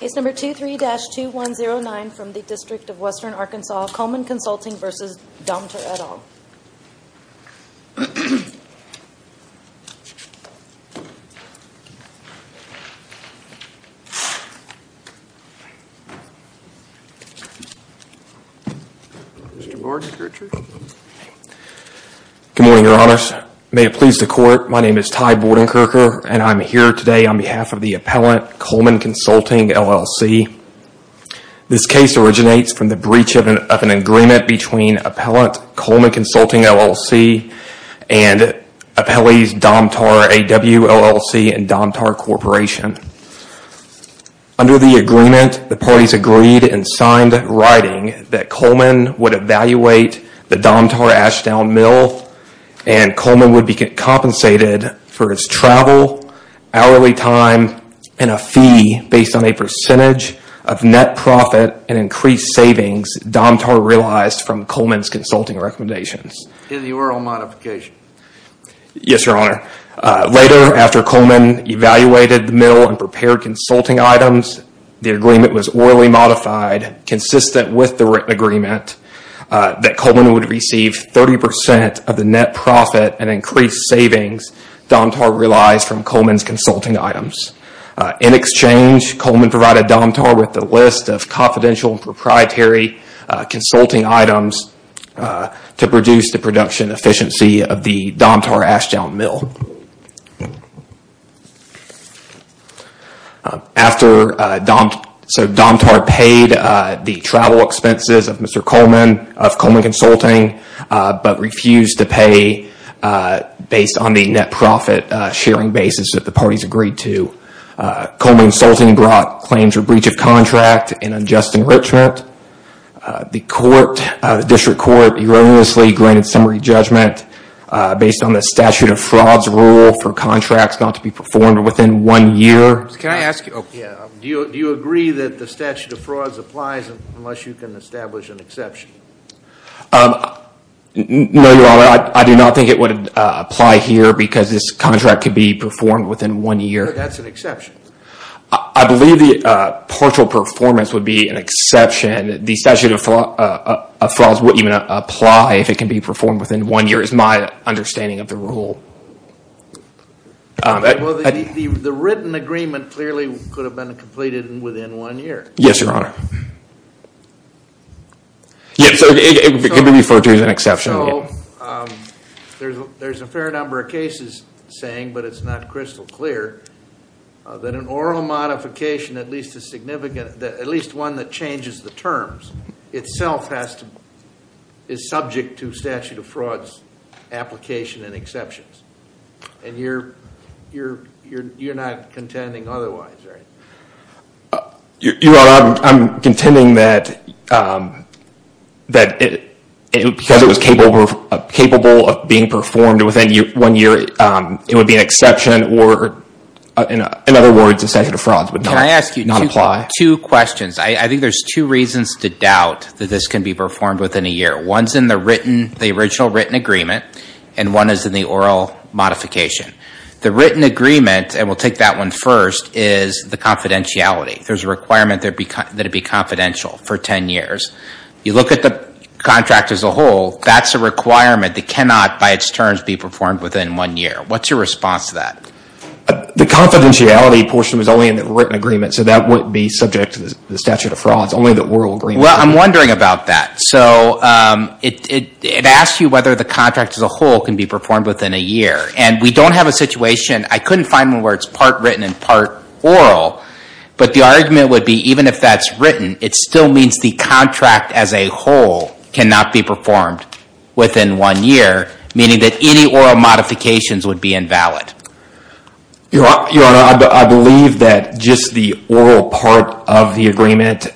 Case number 23-2109 from the District of Western Arkansas, Coleman Consulting v. Domtar, et al. Good morning, Your Honors. May it please the Court, my name is Ty Bordenkircher, and I'm here today on behalf of the Appellant Coleman Consulting, LLC. This case originates from the breach of an agreement between Appellant Coleman Consulting, LLC and Appellees Domtar, AW, LLC, and Domtar Corporation. Under the agreement, the parties agreed and signed writing that Coleman would evaluate the Domtar Ashdown Mill and Coleman would be compensated for his travel, hourly time, and a fee based on a percentage of net profit and increased savings Domtar realized from Coleman's consulting recommendations. In the oral modification? Yes, Your Honor. Later, after Coleman evaluated the mill and prepared consulting items, the agreement was orally modified consistent with the written agreement that Coleman would receive 30% of the net profit and increased savings Domtar realized from Coleman's consulting items. In exchange, Coleman provided Domtar with a list of confidential and proprietary consulting items to reduce the production efficiency of the Domtar Ashdown Mill. Domtar paid the travel expenses of Coleman Consulting, but refused to pay based on the net profit sharing basis that the parties agreed to. Coleman Consulting brought claims for breach of contract and unjust enrichment. The District Court erroneously granted summary judgment based on the statute of frauds rule for contracts not to be performed within one year. Do you agree that the statute of frauds applies unless you can establish an exception? No, Your Honor. I do not think it would apply here because this contract could be performed within one year. That's an exception. I believe the partial performance would be an exception. The statute of frauds would even apply if it can be performed within one year is my understanding of the rule. The written agreement clearly could have been completed within one year. Yes, Your Honor. Yes, it could be referred to as an exception. There's a fair number of cases saying, but it's not crystal clear, that an oral modification, at least one that changes the terms, itself is subject to statute of frauds application and exceptions. And you're not contending otherwise, right? Your Honor, I'm contending that because it was capable of being performed within one year, it would be an exception or, in other words, a statute of frauds would not apply. Can I ask you two questions? I think there's two reasons to doubt that this can be performed within a year. One's in the original written agreement and one is in the oral modification. The written agreement, and we'll take that one first, is the confidentiality. There's a requirement that it be confidential for ten years. You look at the contract as a whole, that's a requirement that cannot, by its terms, be performed within one year. What's your response to that? The confidentiality portion was only in the written agreement, so that wouldn't be subject to the statute of frauds. Only the oral agreement. Well, I'm wondering about that. So, it asks you whether the contract as a whole can be performed within a year. And we don't have a situation, I couldn't find one where it's part written and part oral. But the argument would be, even if that's written, it still means the contract as a whole cannot be performed within one year. Meaning that any oral modifications would be invalid. Your Honor, I believe that just the oral part of the agreement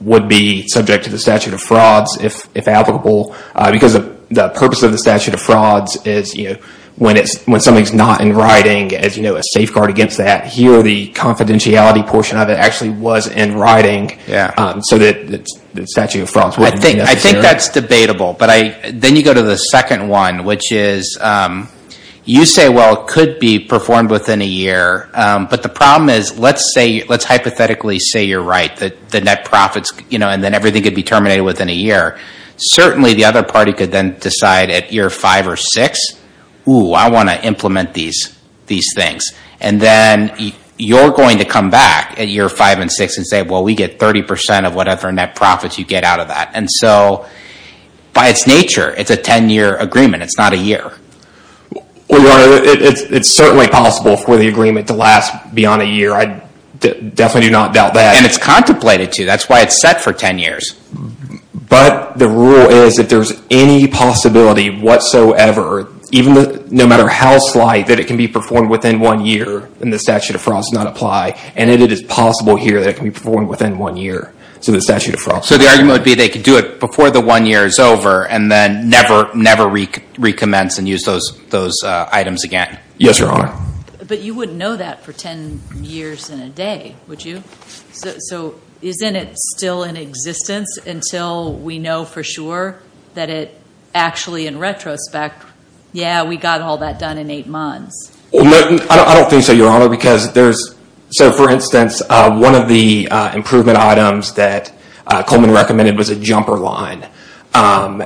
would be subject to the statute of frauds if applicable. Because the purpose of the statute of frauds is, when something's not in writing, as you know, a safeguard against that. Here, the confidentiality portion of it actually was in writing, so that the statute of frauds wouldn't be necessary. I think that's debatable. Then you go to the second one, which is, you say, well, it could be performed within a year. But the problem is, let's hypothetically say you're right. The net profits, and then everything could be terminated within a year. Certainly, the other party could then decide at year five or six, I want to implement these things. And then you're going to come back at year five and six and say, well, we get 30% of whatever net profits you get out of that. And so, by its nature, it's a 10-year agreement. It's not a year. Your Honor, it's certainly possible for the agreement to last beyond a year. I definitely do not doubt that. And it's contemplated to. That's why it's set for 10 years. But the rule is, if there's any possibility whatsoever, no matter how slight, that it can be performed within one year and the statute of frauds does not apply. And it is possible here that it can be performed within one year. So the argument would be they could do it before the one year is over and then never recommence and use those items again. Yes, Your Honor. But you wouldn't know that for 10 years and a day, would you? So isn't it still in existence until we know for sure that it actually, in retrospect, yeah, we got all that done in eight months? I don't think so, Your Honor, because there's... So, for instance, one of the improvement items that Coleman recommended was a jumper line. And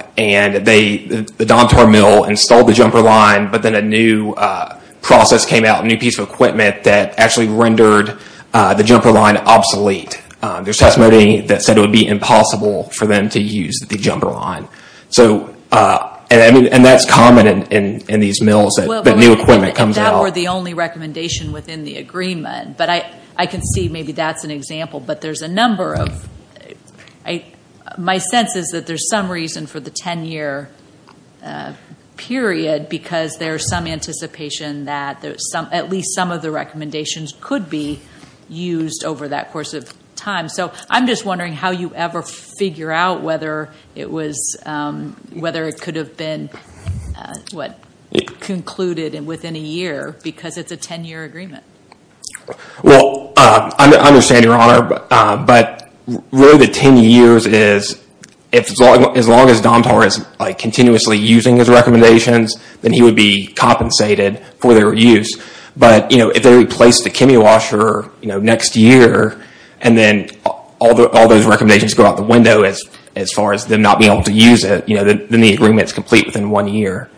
the Domtor mill installed the jumper line, but then a new process came out, a new piece of equipment, that actually rendered the jumper line obsolete. There's testimony that said it would be impossible for them to use the jumper line. So, and that's common in these mills that new equipment comes out. That were the only recommendation within the agreement. But I can see maybe that's an example. But there's a number of... My sense is that there's some reason for the 10-year period, because there's some anticipation that at least some of the recommendations could be used over that course of time. So I'm just wondering how you ever figure out whether it could have been concluded within a year, because it's a 10-year agreement. But really the 10 years is, as long as Domtor is continuously using his recommendations, then he would be compensated for their use. But if they replace the Kimi washer next year, and then all those recommendations go out the window as far as them not being able to use it, then the agreement is complete within one year.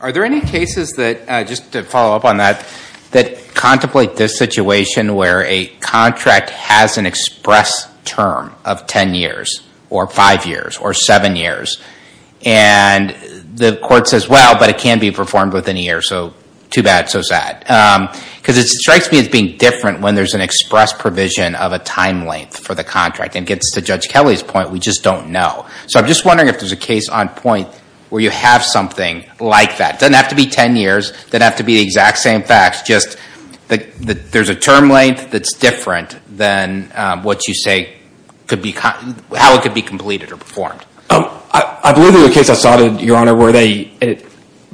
Are there any cases that, just to follow up on that, that contemplate this situation where a contract has an express term of 10 years, or 5 years, or 7 years, and the court says, well, but it can be performed within a year, so too bad, so sad. Because it strikes me as being different when there's an express provision of a time length for the contract. And it gets to Judge Kelly's point, we just don't know. So I'm just wondering if there's a case on point where you have something like that. It doesn't have to be 10 years, it doesn't have to be the exact same facts, just that there's a term length that's different than what you say could be, how it could be completed or performed. I believe there was a case I saw, Your Honor, where they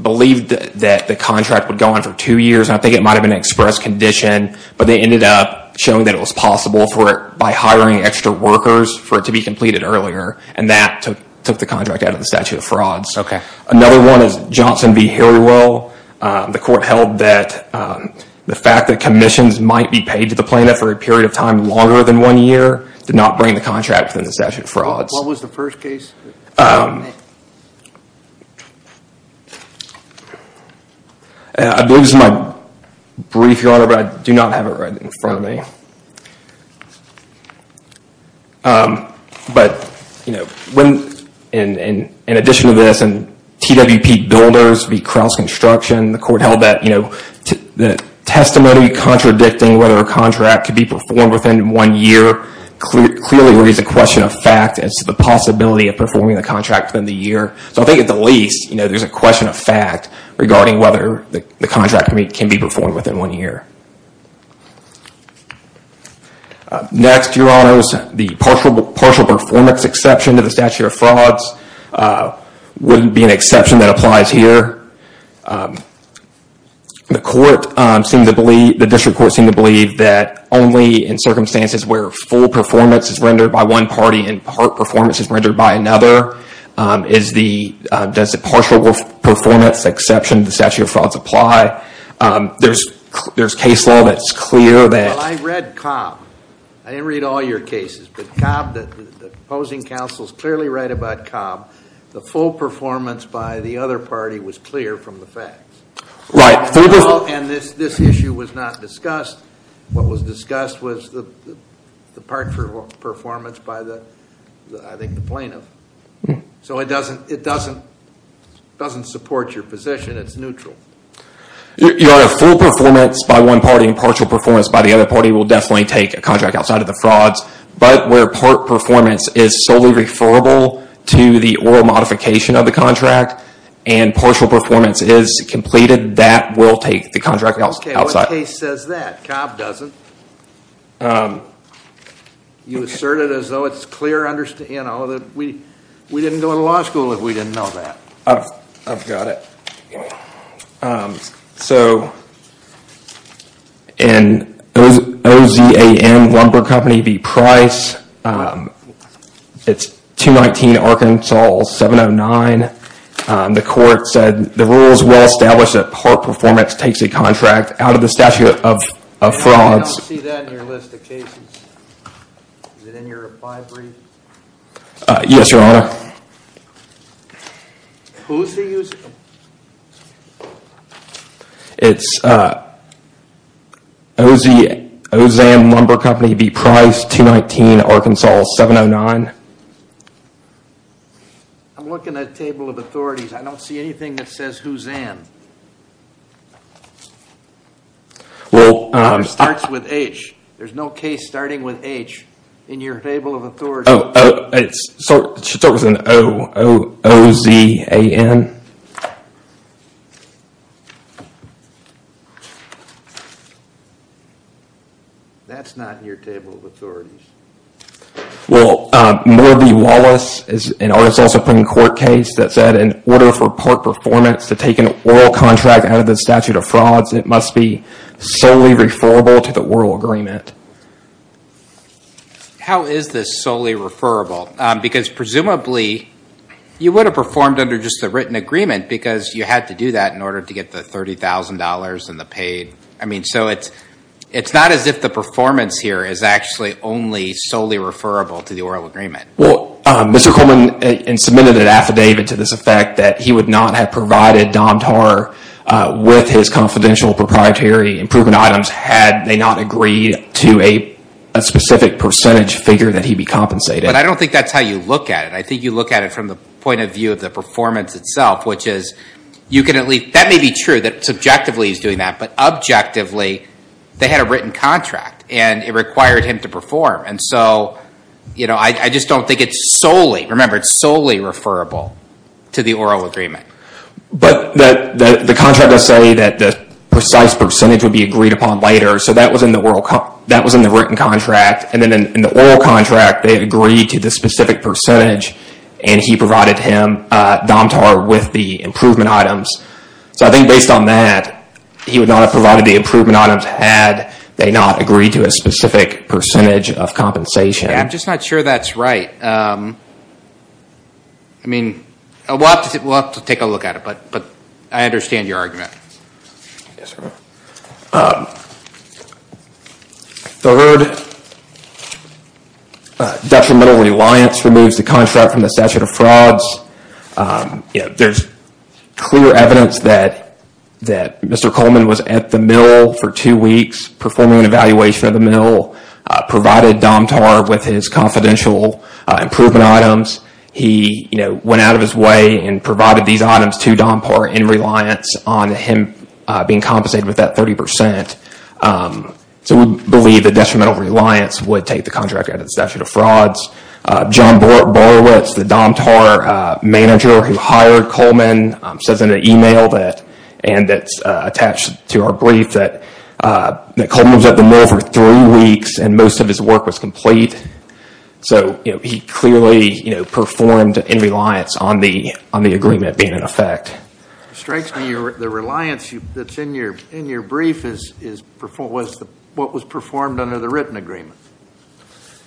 believed that the contract would go on for two years. And I think it might have been an express condition, but they ended up showing that it was possible for it by hiring extra workers for it to be completed earlier. And that took the contract out of the statute of frauds. Okay. Another one is Johnson v. Harrywell. The court held that the fact that commissions might be paid to the plaintiff for a period of time longer than one year did not bring the contract within the statute of frauds. What was the first case? I believe this is my brief, Your Honor, but I do not have it right in front of me. But, you know, in addition to this, in TWP Builders v. Crouse Construction, the court held that the testimony contradicting whether a contract could be performed within one year clearly raises a question of fact as to the possibility of performing the contract within the year. So I think at the least, you know, there's a question of fact regarding whether the contract can be performed within one year. Next, Your Honors, the partial performance exception to the statute of frauds wouldn't be an exception that applies here. The court seemed to believe, the district court seemed to believe that only in circumstances where full performance is rendered by one party and part performance is rendered by another does the partial performance exception to the statute of frauds apply. There's case law that's clear that... Well, I read Cobb. I didn't read all your cases. But Cobb, the opposing counsel is clearly right about Cobb. The full performance by the other party was clear from the facts. Right. And this issue was not discussed. What was discussed was the partial performance by the, I think, the plaintiff. So it doesn't support your position. It's neutral. Your Honor, full performance by one party and partial performance by the other party will definitely take a contract outside of the frauds. But where part performance is solely referable to the oral modification of the contract and partial performance is completed, that will take the contract outside. Okay, what case says that? Cobb doesn't. You assert it as though it's clear, you know, that we didn't go to law school if we didn't know that. I've got it. So in OZAM Lumber Company v. Price, it's 219 Arkansas 709, the court said the rules well establish that part performance takes a contract out of the statute of frauds. I don't see that in your list of cases. Is it in your reply brief? Yes, Your Honor. Who is he using? It's OZAM Lumber Company v. Price 219 Arkansas 709. I'm looking at a table of authorities. I don't see anything that says who's in. Well, it starts with H. There's no case starting with H in your table of authorities. It starts with an O, O, O, Z, A, N. That's not in your table of authorities. Well, Morby Wallace is an Arkansas Supreme Court case that said in order for part performance to take an oral contract out of the statute of frauds, it must be solely referable to the oral agreement. How is this solely referable? Because presumably you would have performed under just the written agreement because you had to do that in order to get the $30,000 and the paid. I mean, so it's not as if the performance here is actually only solely referable to the oral agreement. Well, Mr. Coleman submitted an affidavit to this effect that he would not have provided Dom Tar with his confidential proprietary improvement items had they not agreed to a specific percentage figure that he be compensated. But I don't think that's how you look at it. I think you look at it from the point of view of the performance itself, which is that may be true that subjectively he's doing that, but objectively they had a written contract and it required him to perform. And so I just don't think it's solely, remember, it's solely referable to the oral agreement. But the contract does say that the precise percentage would be agreed upon later. So that was in the written contract. And then in the oral contract, they had agreed to the specific percentage and he provided him Dom Tar with the improvement items. So I think based on that, he would not have provided the improvement items had they not agreed to a specific percentage of compensation. I'm just not sure that's right. I mean, we'll have to take a look at it, but I understand your argument. Yes, sir. Third, detrimental reliance removes the contract from the statute of frauds. There's clear evidence that Mr. Coleman was at the mill for two weeks performing an evaluation at the mill, provided Dom Tar with his confidential improvement items. He went out of his way and provided these items to Dom Tar in reliance on him being compensated with that 30%. So we believe that detrimental reliance would take the contract out of the statute of frauds. John Borowitz, the Dom Tar manager who hired Coleman, says in an email that, and that's attached to our brief, that Coleman was at the mill for three weeks and most of his work was complete. So he clearly performed in reliance on the agreement being in effect. It strikes me the reliance that's in your brief was what was performed under the written agreement.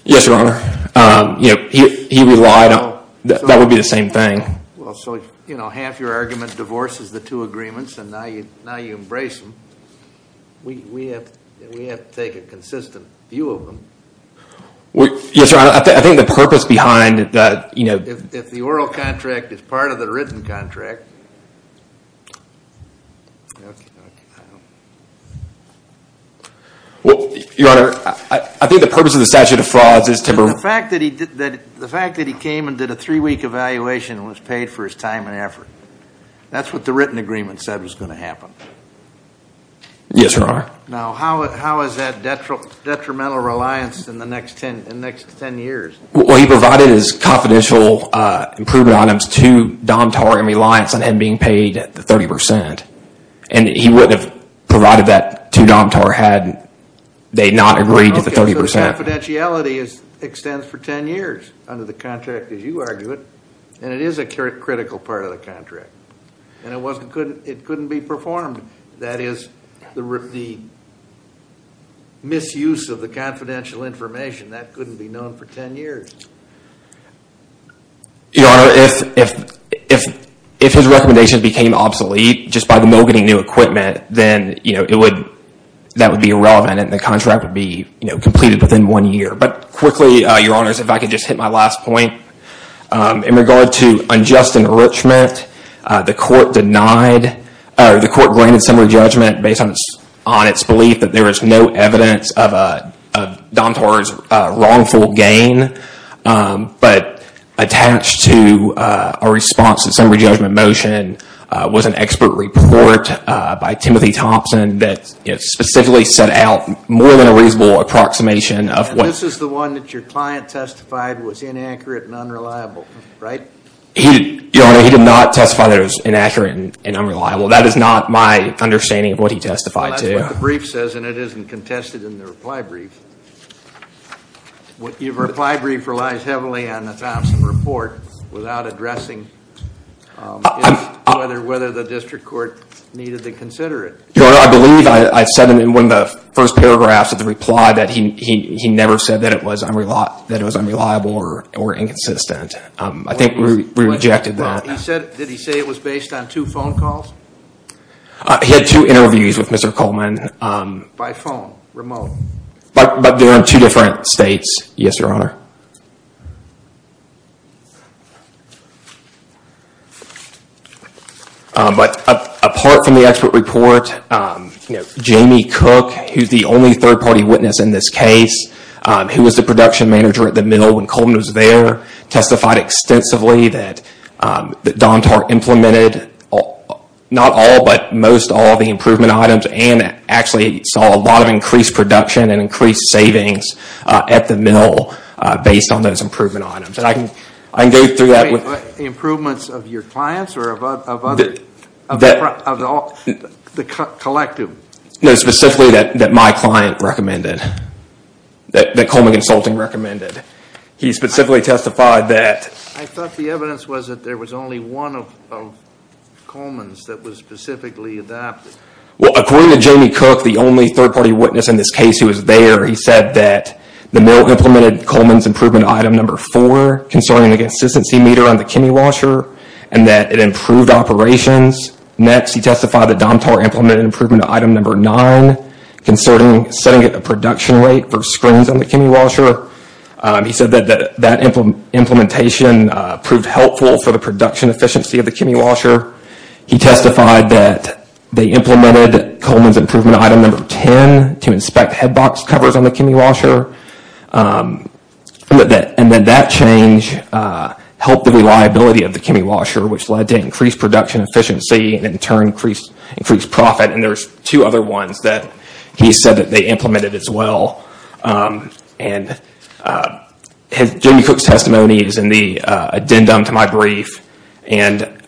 Yes, Your Honor. He relied on, that would be the same thing. Well, so, you know, half your argument divorces the two agreements and now you embrace them. We have to take a consistent view of them. Yes, Your Honor. I think the purpose behind that, you know. If the oral contract is part of the written contract. Well, Your Honor, I think the purpose of the statute of frauds is to. The fact that he came and did a three-week evaluation and was paid for his time and effort. That's what the written agreement said was going to happen. Yes, Your Honor. Now, how is that detrimental reliance in the next ten years? Well, he provided his confidential approved items to Dom Tar in reliance on him being paid the 30%. And he wouldn't have provided that to Dom Tar had they not agreed to the 30%. Confidentiality extends for ten years under the contract, as you argue it. And it is a critical part of the contract. And it couldn't be performed. That is the misuse of the confidential information. That couldn't be known for ten years. Your Honor, if his recommendation became obsolete just by the moguling new equipment, then that would be irrelevant and the contract would be completed within one year. But quickly, Your Honor, if I could just hit my last point. In regard to unjust enrichment, the court denied, the court granted summary judgment based on its belief that there is no evidence of Dom Tar's wrongful gain. But attached to a response to summary judgment motion was an expert report by Timothy Thompson that specifically set out more than a reasonable approximation of what- And this is the one that your client testified was inaccurate and unreliable, right? Your Honor, he did not testify that it was inaccurate and unreliable. That is not my understanding of what he testified to. Well, that's what the brief says, and it isn't contested in the reply brief. Your reply brief relies heavily on the Thompson report without addressing whether the district court needed to consider it. Your Honor, I believe I said in one of the first paragraphs of the reply that he never said that it was unreliable or inconsistent. I think we rejected that. Did he say it was based on two phone calls? He had two interviews with Mr. Coleman. By phone, remote? But they were in two different states. Yes, Your Honor. But apart from the expert report, Jamie Cook, who's the only third-party witness in this case, who was the production manager at the mill when Coleman was there, testified extensively that Dom Tar implemented not all but most all the improvement items and actually saw a lot of increased production and increased savings at the mill based on those improvement items. And I can go through that with Improvements of your clients or of the collective? No, specifically that my client recommended, that Coleman Consulting recommended. He specifically testified that I thought the evidence was that there was only one of Coleman's that was specifically adapted. Well, according to Jamie Cook, the only third-party witness in this case who was there, he said that the mill implemented Coleman's improvement item number four concerning the consistency meter on the chemi-washer and that it improved operations. Next, he testified that Dom Tar implemented improvement item number nine concerning setting a production rate for screens on the chemi-washer. He said that that implementation proved helpful for the production efficiency of the chemi-washer. He testified that they implemented Coleman's improvement item number 10 to inspect head box covers on the chemi-washer. And that change helped the reliability of the chemi-washer, which led to increased production efficiency and in turn increased profit. And there's two other ones that he said that they implemented as well. And Jamie Cook's testimony is in the addendum to my brief. And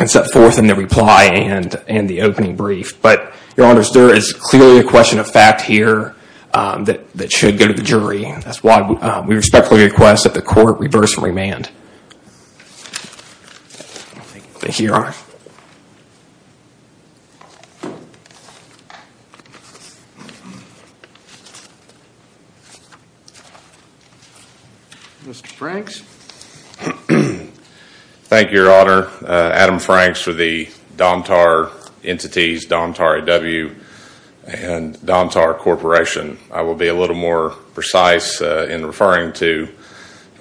it's set forth in the reply and in the opening brief. But, Your Honors, there is clearly a question of fact here that should go to the jury. That's why we respectfully request that the court reverse and remand. Thank you, Your Honor. Mr. Franks. Thank you, Your Honor. Adam Franks for the Dom Tar Entities, Dom Tar A.W. and Dom Tar Corporation. I will be a little more precise in referring to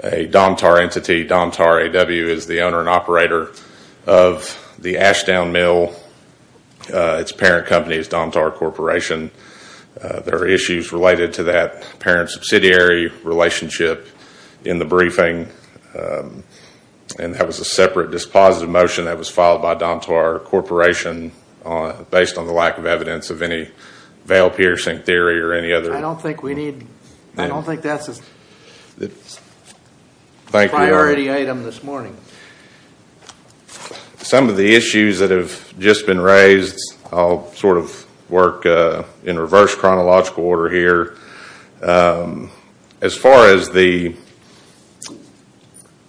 a Dom Tar Entity. Dom Tar A.W. is the owner and operator of the Ashdown Mill. Its parent company is Dom Tar Corporation. There are issues related to that parent-subsidiary relationship in the briefing. And that was a separate dispositive motion that was filed by Dom Tar Corporation based on the lack of evidence of any veil-piercing theory or any other. I don't think we need, I don't think that's a priority item this morning. Some of the issues that have just been raised, I'll sort of work in reverse chronological order here. As far as the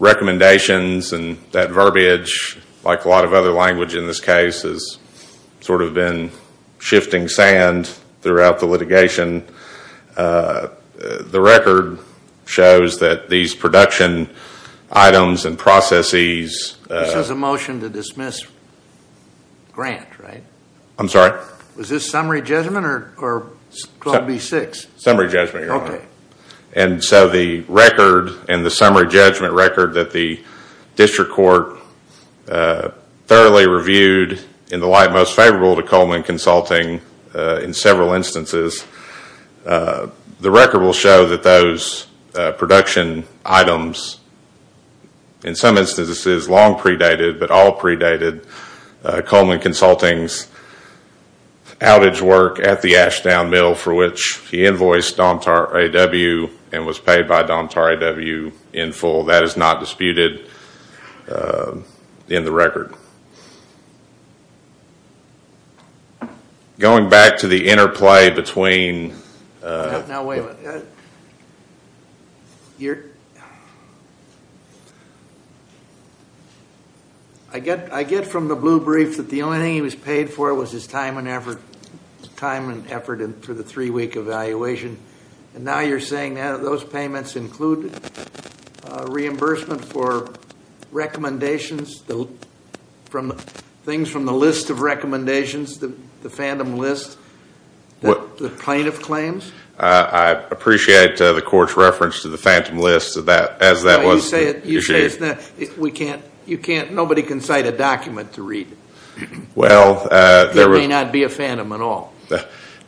recommendations and that verbiage, which like a lot of other language in this case has sort of been shifting sand throughout the litigation, the record shows that these production items and processes. This is a motion to dismiss Grant, right? I'm sorry? Was this summary judgment or Club B-6? Summary judgment, Your Honor. Okay. And so the record and the summary judgment record that the district court thoroughly reviewed in the light most favorable to Coleman Consulting in several instances, the record will show that those production items in some instances long predated but all predated Coleman Consulting's outage work at the Ashdown Mill for which he invoiced Domtar A.W. and was paid by Domtar A.W. in full. That is not disputed in the record. Going back to the interplay between. Now wait a minute. Your. I get from the blue brief that the only thing he was paid for was his time and effort for the three-week evaluation. And now you're saying that those payments include reimbursement for recommendations, things from the list of recommendations, the fandom list, the plaintiff claims? I appreciate the court's reference to the fandom list as that was issued. You say it's not. Nobody can cite a document to read. It may not be a fandom at all.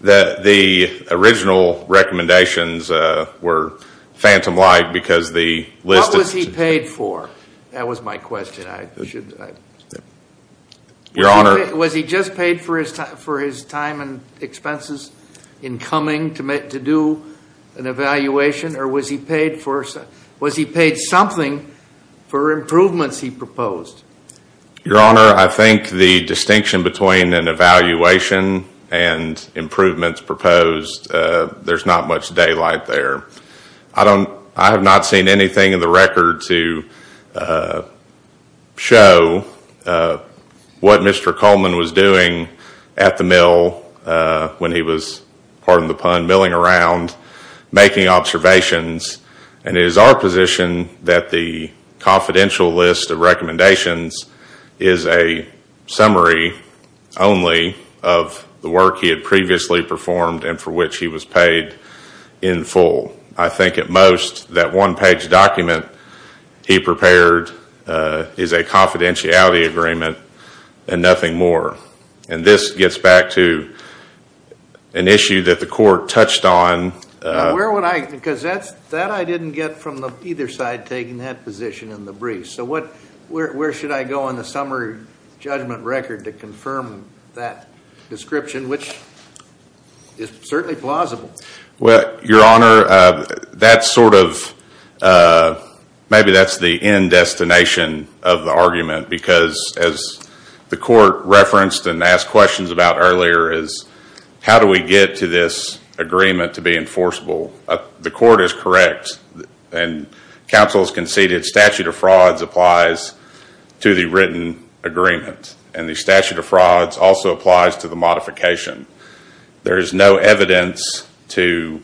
The original recommendations were fandom-like because the list. What was he paid for? That was my question. Your Honor. Was he just paid for his time and expenses in coming to do an evaluation or was he paid something for improvements he proposed? Your Honor, I think the distinction between an evaluation and improvements proposed, there's not much daylight there. I have not seen anything in the record to show what Mr. Coleman was doing at the mill when he was, pardon the pun, milling around making observations. And it is our position that the confidential list of recommendations is a summary only of the work he had previously performed and for which he was paid in full. I think at most that one-page document he prepared is a confidentiality agreement and nothing more. And this gets back to an issue that the court touched on. Where would I, because that I didn't get from either side taking that position in the brief. So where should I go on the summary judgment record to confirm that description, which is certainly plausible? Your Honor, that's sort of, maybe that's the end destination of the argument because as the court referenced and asked questions about earlier is how do we get to this agreement to be enforceable? The court is correct and counsel has conceded statute of frauds applies to the written agreement and the statute of frauds also applies to the modification. There is no evidence to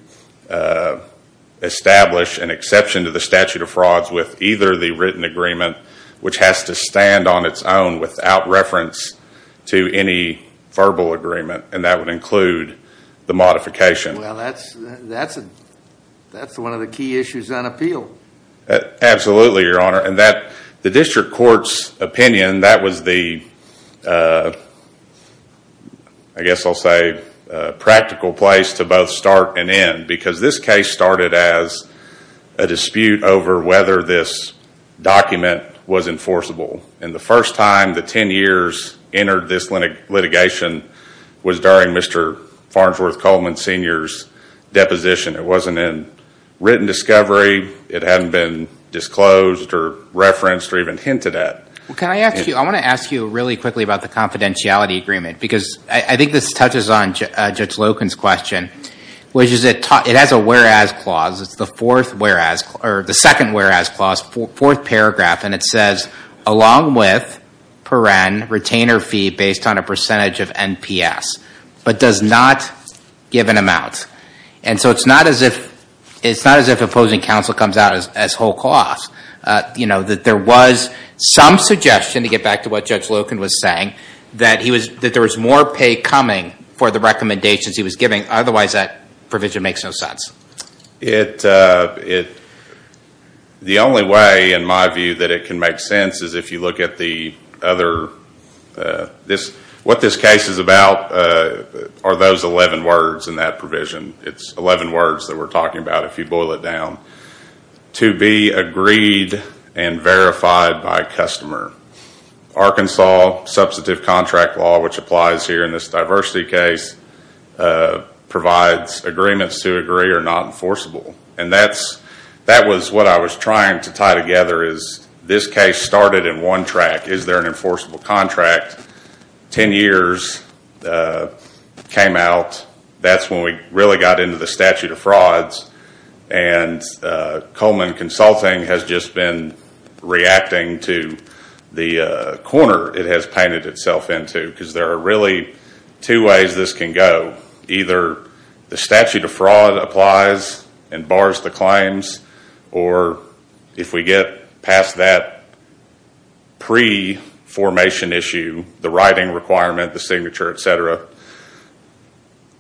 establish an exception to the statute of frauds with either the written agreement, which has to stand on its own without reference to any verbal agreement and that would include the modification. Well, that's one of the key issues on appeal. Absolutely, Your Honor. And the district court's opinion, that was the, I guess I'll say, practical place to both start and end because this case started as a dispute over whether this document was enforceable. And the first time the 10 years entered this litigation was during Mr. Farnsworth Coleman Sr.'s deposition. It wasn't in written discovery. It hadn't been disclosed or referenced or even hinted at. Can I ask you, I want to ask you really quickly about the confidentiality agreement because I think this touches on Judge Loken's question, which is it has a whereas clause. It's the fourth whereas, or the second whereas clause, fourth paragraph, and it says along with per-en, retainer fee based on a percentage of NPS, but does not give an amount. And so it's not as if opposing counsel comes out as whole clause. You know, that there was some suggestion, to get back to what Judge Loken was saying, that there was more pay coming for the recommendations he was giving. Otherwise that provision makes no sense. The only way in my view that it can make sense is if you look at the other, what this case is about are those 11 words in that provision. It's 11 words that we're talking about if you boil it down. To be agreed and verified by customer. Arkansas substantive contract law, which applies here in this diversity case, provides agreements to agree or not enforceable. And that was what I was trying to tie together is this case started in one track. Is there an enforceable contract? Ten years came out. That's when we really got into the statute of frauds. And Coleman Consulting has just been reacting to the corner it has painted itself into. Because there are really two ways this can go. Either the statute of fraud applies and bars the claims, or if we get past that pre-formation issue, the writing requirement, the signature, etc.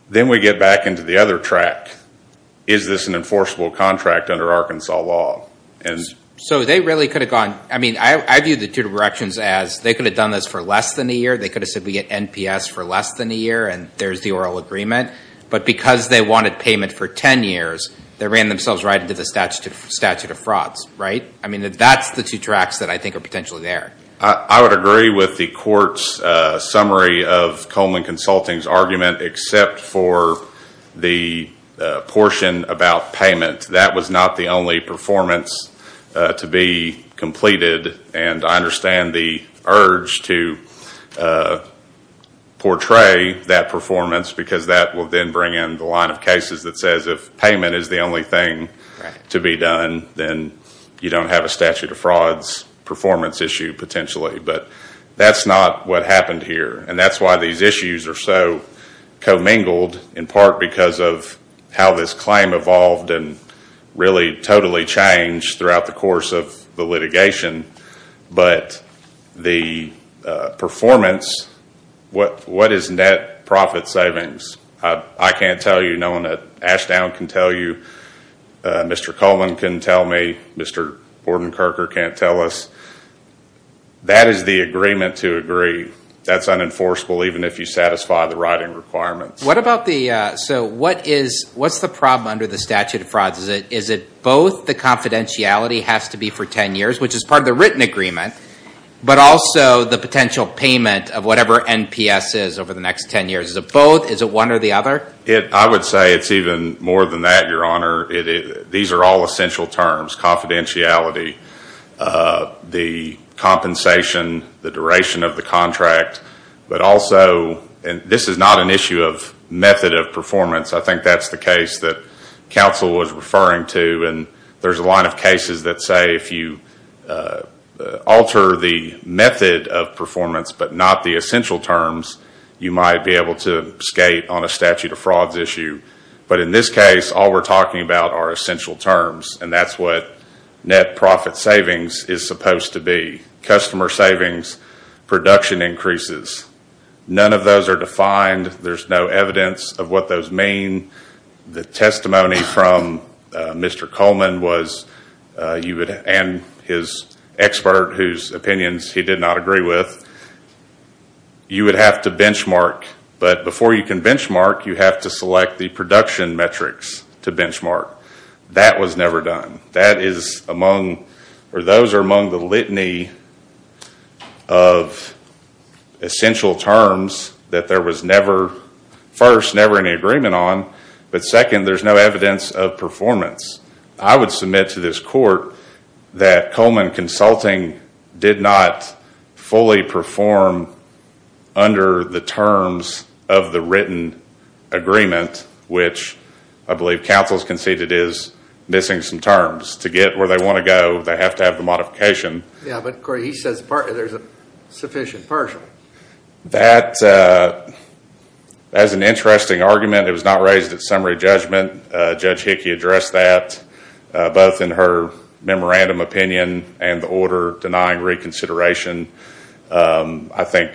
Then we get back into the other track. Is this an enforceable contract under Arkansas law? So they really could have gone, I mean, I view the two directions as they could have done this for less than a year. They could have said we get NPS for less than a year, and there's the oral agreement. But because they wanted payment for ten years, they ran themselves right into the statute of frauds, right? I mean, that's the two tracks that I think are potentially there. I would agree with the court's summary of Coleman Consulting's argument, except for the portion about payment. That was not the only performance to be completed. And I understand the urge to portray that performance, because that will then bring in the line of cases that says if payment is the only thing to be done, then you don't have a statute of frauds performance issue potentially. But that's not what happened here. And that's why these issues are so commingled, in part because of how this claim evolved and really totally changed throughout the course of the litigation. But the performance, what is net profit savings? I can't tell you. No one at Ashdown can tell you. Mr. Coleman can tell me. Mr. Bordenkerker can't tell us. That is the agreement to agree. That's unenforceable, even if you satisfy the writing requirements. So what's the problem under the statute of frauds? Is it both the confidentiality has to be for ten years, which is part of the written agreement, but also the potential payment of whatever NPS is over the next ten years? Is it both? Is it one or the other? I would say it's even more than that, Your Honor. These are all essential terms, confidentiality, the compensation, the duration of the contract, but also this is not an issue of method of performance. I think that's the case that counsel was referring to. And there's a line of cases that say if you alter the method of performance but not the essential terms, you might be able to skate on a statute of frauds issue. But in this case, all we're talking about are essential terms, and that's what net profit savings is supposed to be. Customer savings, production increases, none of those are defined. There's no evidence of what those mean. The testimony from Mr. Coleman and his expert, whose opinions he did not agree with, you would have to benchmark, but before you can benchmark, you have to select the production metrics to benchmark. That was never done. That is among, or those are among the litany of essential terms that there was never, first, never any agreement on, but second, there's no evidence of performance. I would submit to this court that Coleman Consulting did not fully perform under the terms of the written agreement, which I believe counsel has conceded is missing some terms. To get where they want to go, they have to have the modification. Yeah, but Corey, he says there's a sufficient partial. That is an interesting argument. It was not raised at summary judgment. Judge Hickey addressed that, both in her memorandum opinion and the order denying reconsideration. I think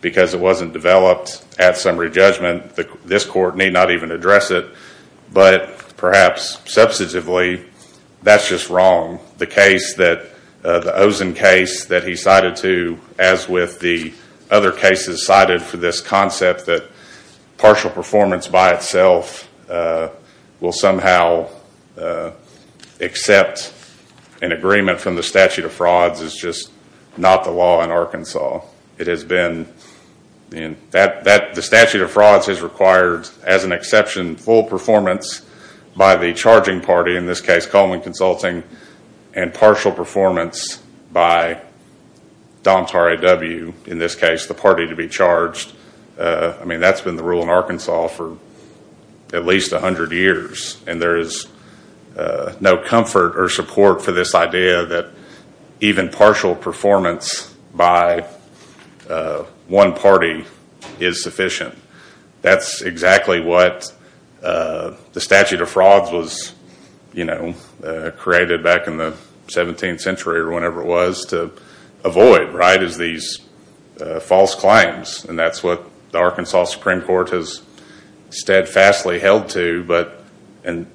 because it wasn't developed at summary judgment, this court may not even address it, but perhaps substantively, that's just wrong. The case that, the Ozen case that he cited too, as with the other cases cited for this concept, that partial performance by itself will somehow accept an agreement from the statute of frauds is just not the law in Arkansas. It has been, the statute of frauds has required, as an exception, full performance by the charging party, in this case Coleman Consulting, and partial performance by Domtar A.W., in this case the party to be charged. I mean, that's been the rule in Arkansas for at least 100 years, and there is no comfort or support for this idea that even partial performance by one party is sufficient. That's exactly what the statute of frauds was created back in the 17th century, or whenever it was, to avoid, right, is these false claims. And that's what the Arkansas Supreme Court has steadfastly held to, but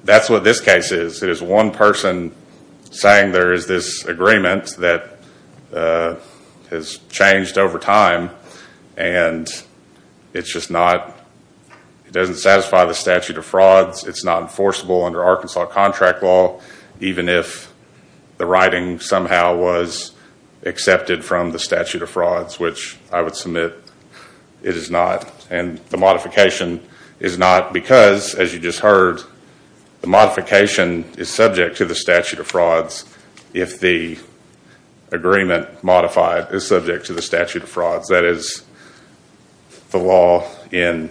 that's what this case is. It is one person saying there is this agreement that has changed over time, and it's just not, it doesn't satisfy the statute of frauds, it's not enforceable under Arkansas contract law, even if the writing somehow was accepted from the statute of frauds, which I would submit it is not. And the modification is not because, as you just heard, the modification is subject to the statute of frauds if the agreement modified is subject to the statute of frauds. That is the law in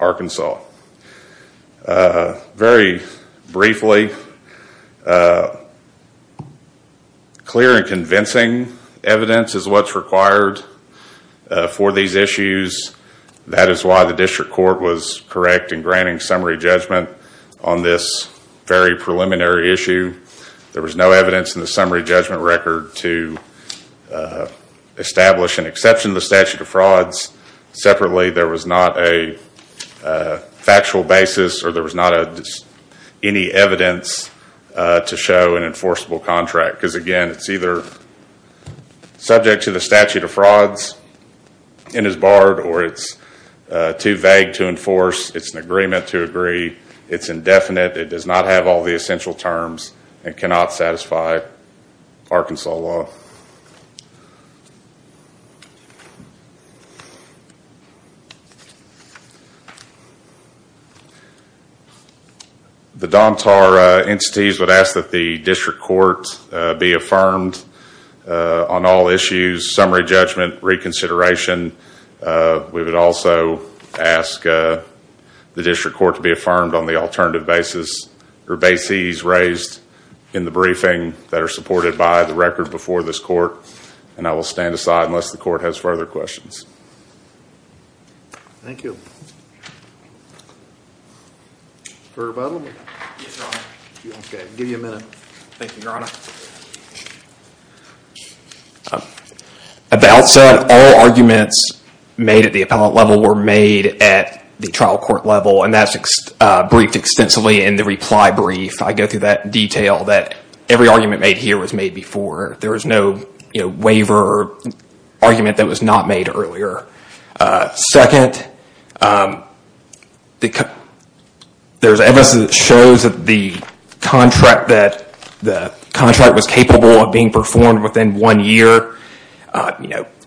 Arkansas. Very briefly, clear and convincing evidence is what's required for these issues. That is why the district court was correct in granting summary judgment on this very preliminary issue. There was no evidence in the summary judgment record to establish an exception to the statute of frauds. Separately, there was not a factual basis, or there was not any evidence to show an enforceable contract, because again, it's either subject to the statute of frauds and is barred, or it's too vague to enforce, it's an agreement to agree, it's indefinite, it does not have all the essential terms, and cannot satisfy Arkansas law. Thank you. The DOMTAR entities would ask that the district court be affirmed on all issues, summary judgment, reconsideration. We would also ask the district court to be affirmed on the alternative bases, or bases raised in the briefing that are supported by the record before this court. And I will stand aside unless the court has further questions. Thank you. For rebuttal? I'll give you a minute. Thank you, Your Honor. At the outset, all arguments made at the appellate level were made at the trial court level, and that's briefed extensively in the reply brief. I go through that detail, that every argument made here was made before. There was no waiver or argument that was not made earlier. Second, there's evidence that shows that the contract was capable of being performed within one year.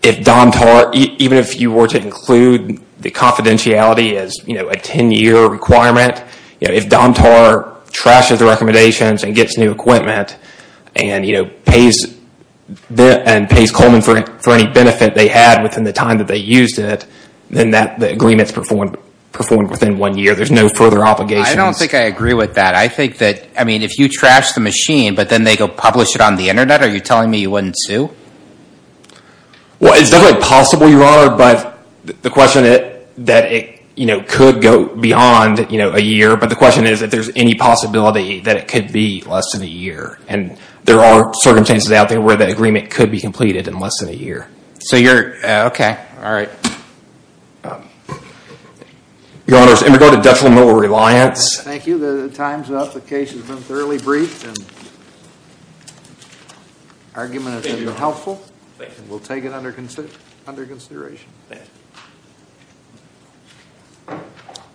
If DOMTAR, even if you were to include the confidentiality as a ten-year requirement, if DOMTAR trashes the recommendations and gets new equipment, and pays Coleman for any benefit they had within the time that they used it, then the agreement's performed within one year. There's no further obligations. I don't think I agree with that. I think that, I mean, if you trash the machine, but then they go publish it on the Internet, are you telling me you wouldn't sue? Well, it's definitely possible, Your Honor, but the question is that it could go beyond a year, but the question is if there's any possibility that it could be less than a year, and there are circumstances out there where the agreement could be completed in less than a year. So you're, okay, all right. Your Honors, in regard to detrimental reliance. Thank you. The time's up. The case has been thoroughly briefed, and the argument has been helpful, and we'll take it under consideration. Thank you.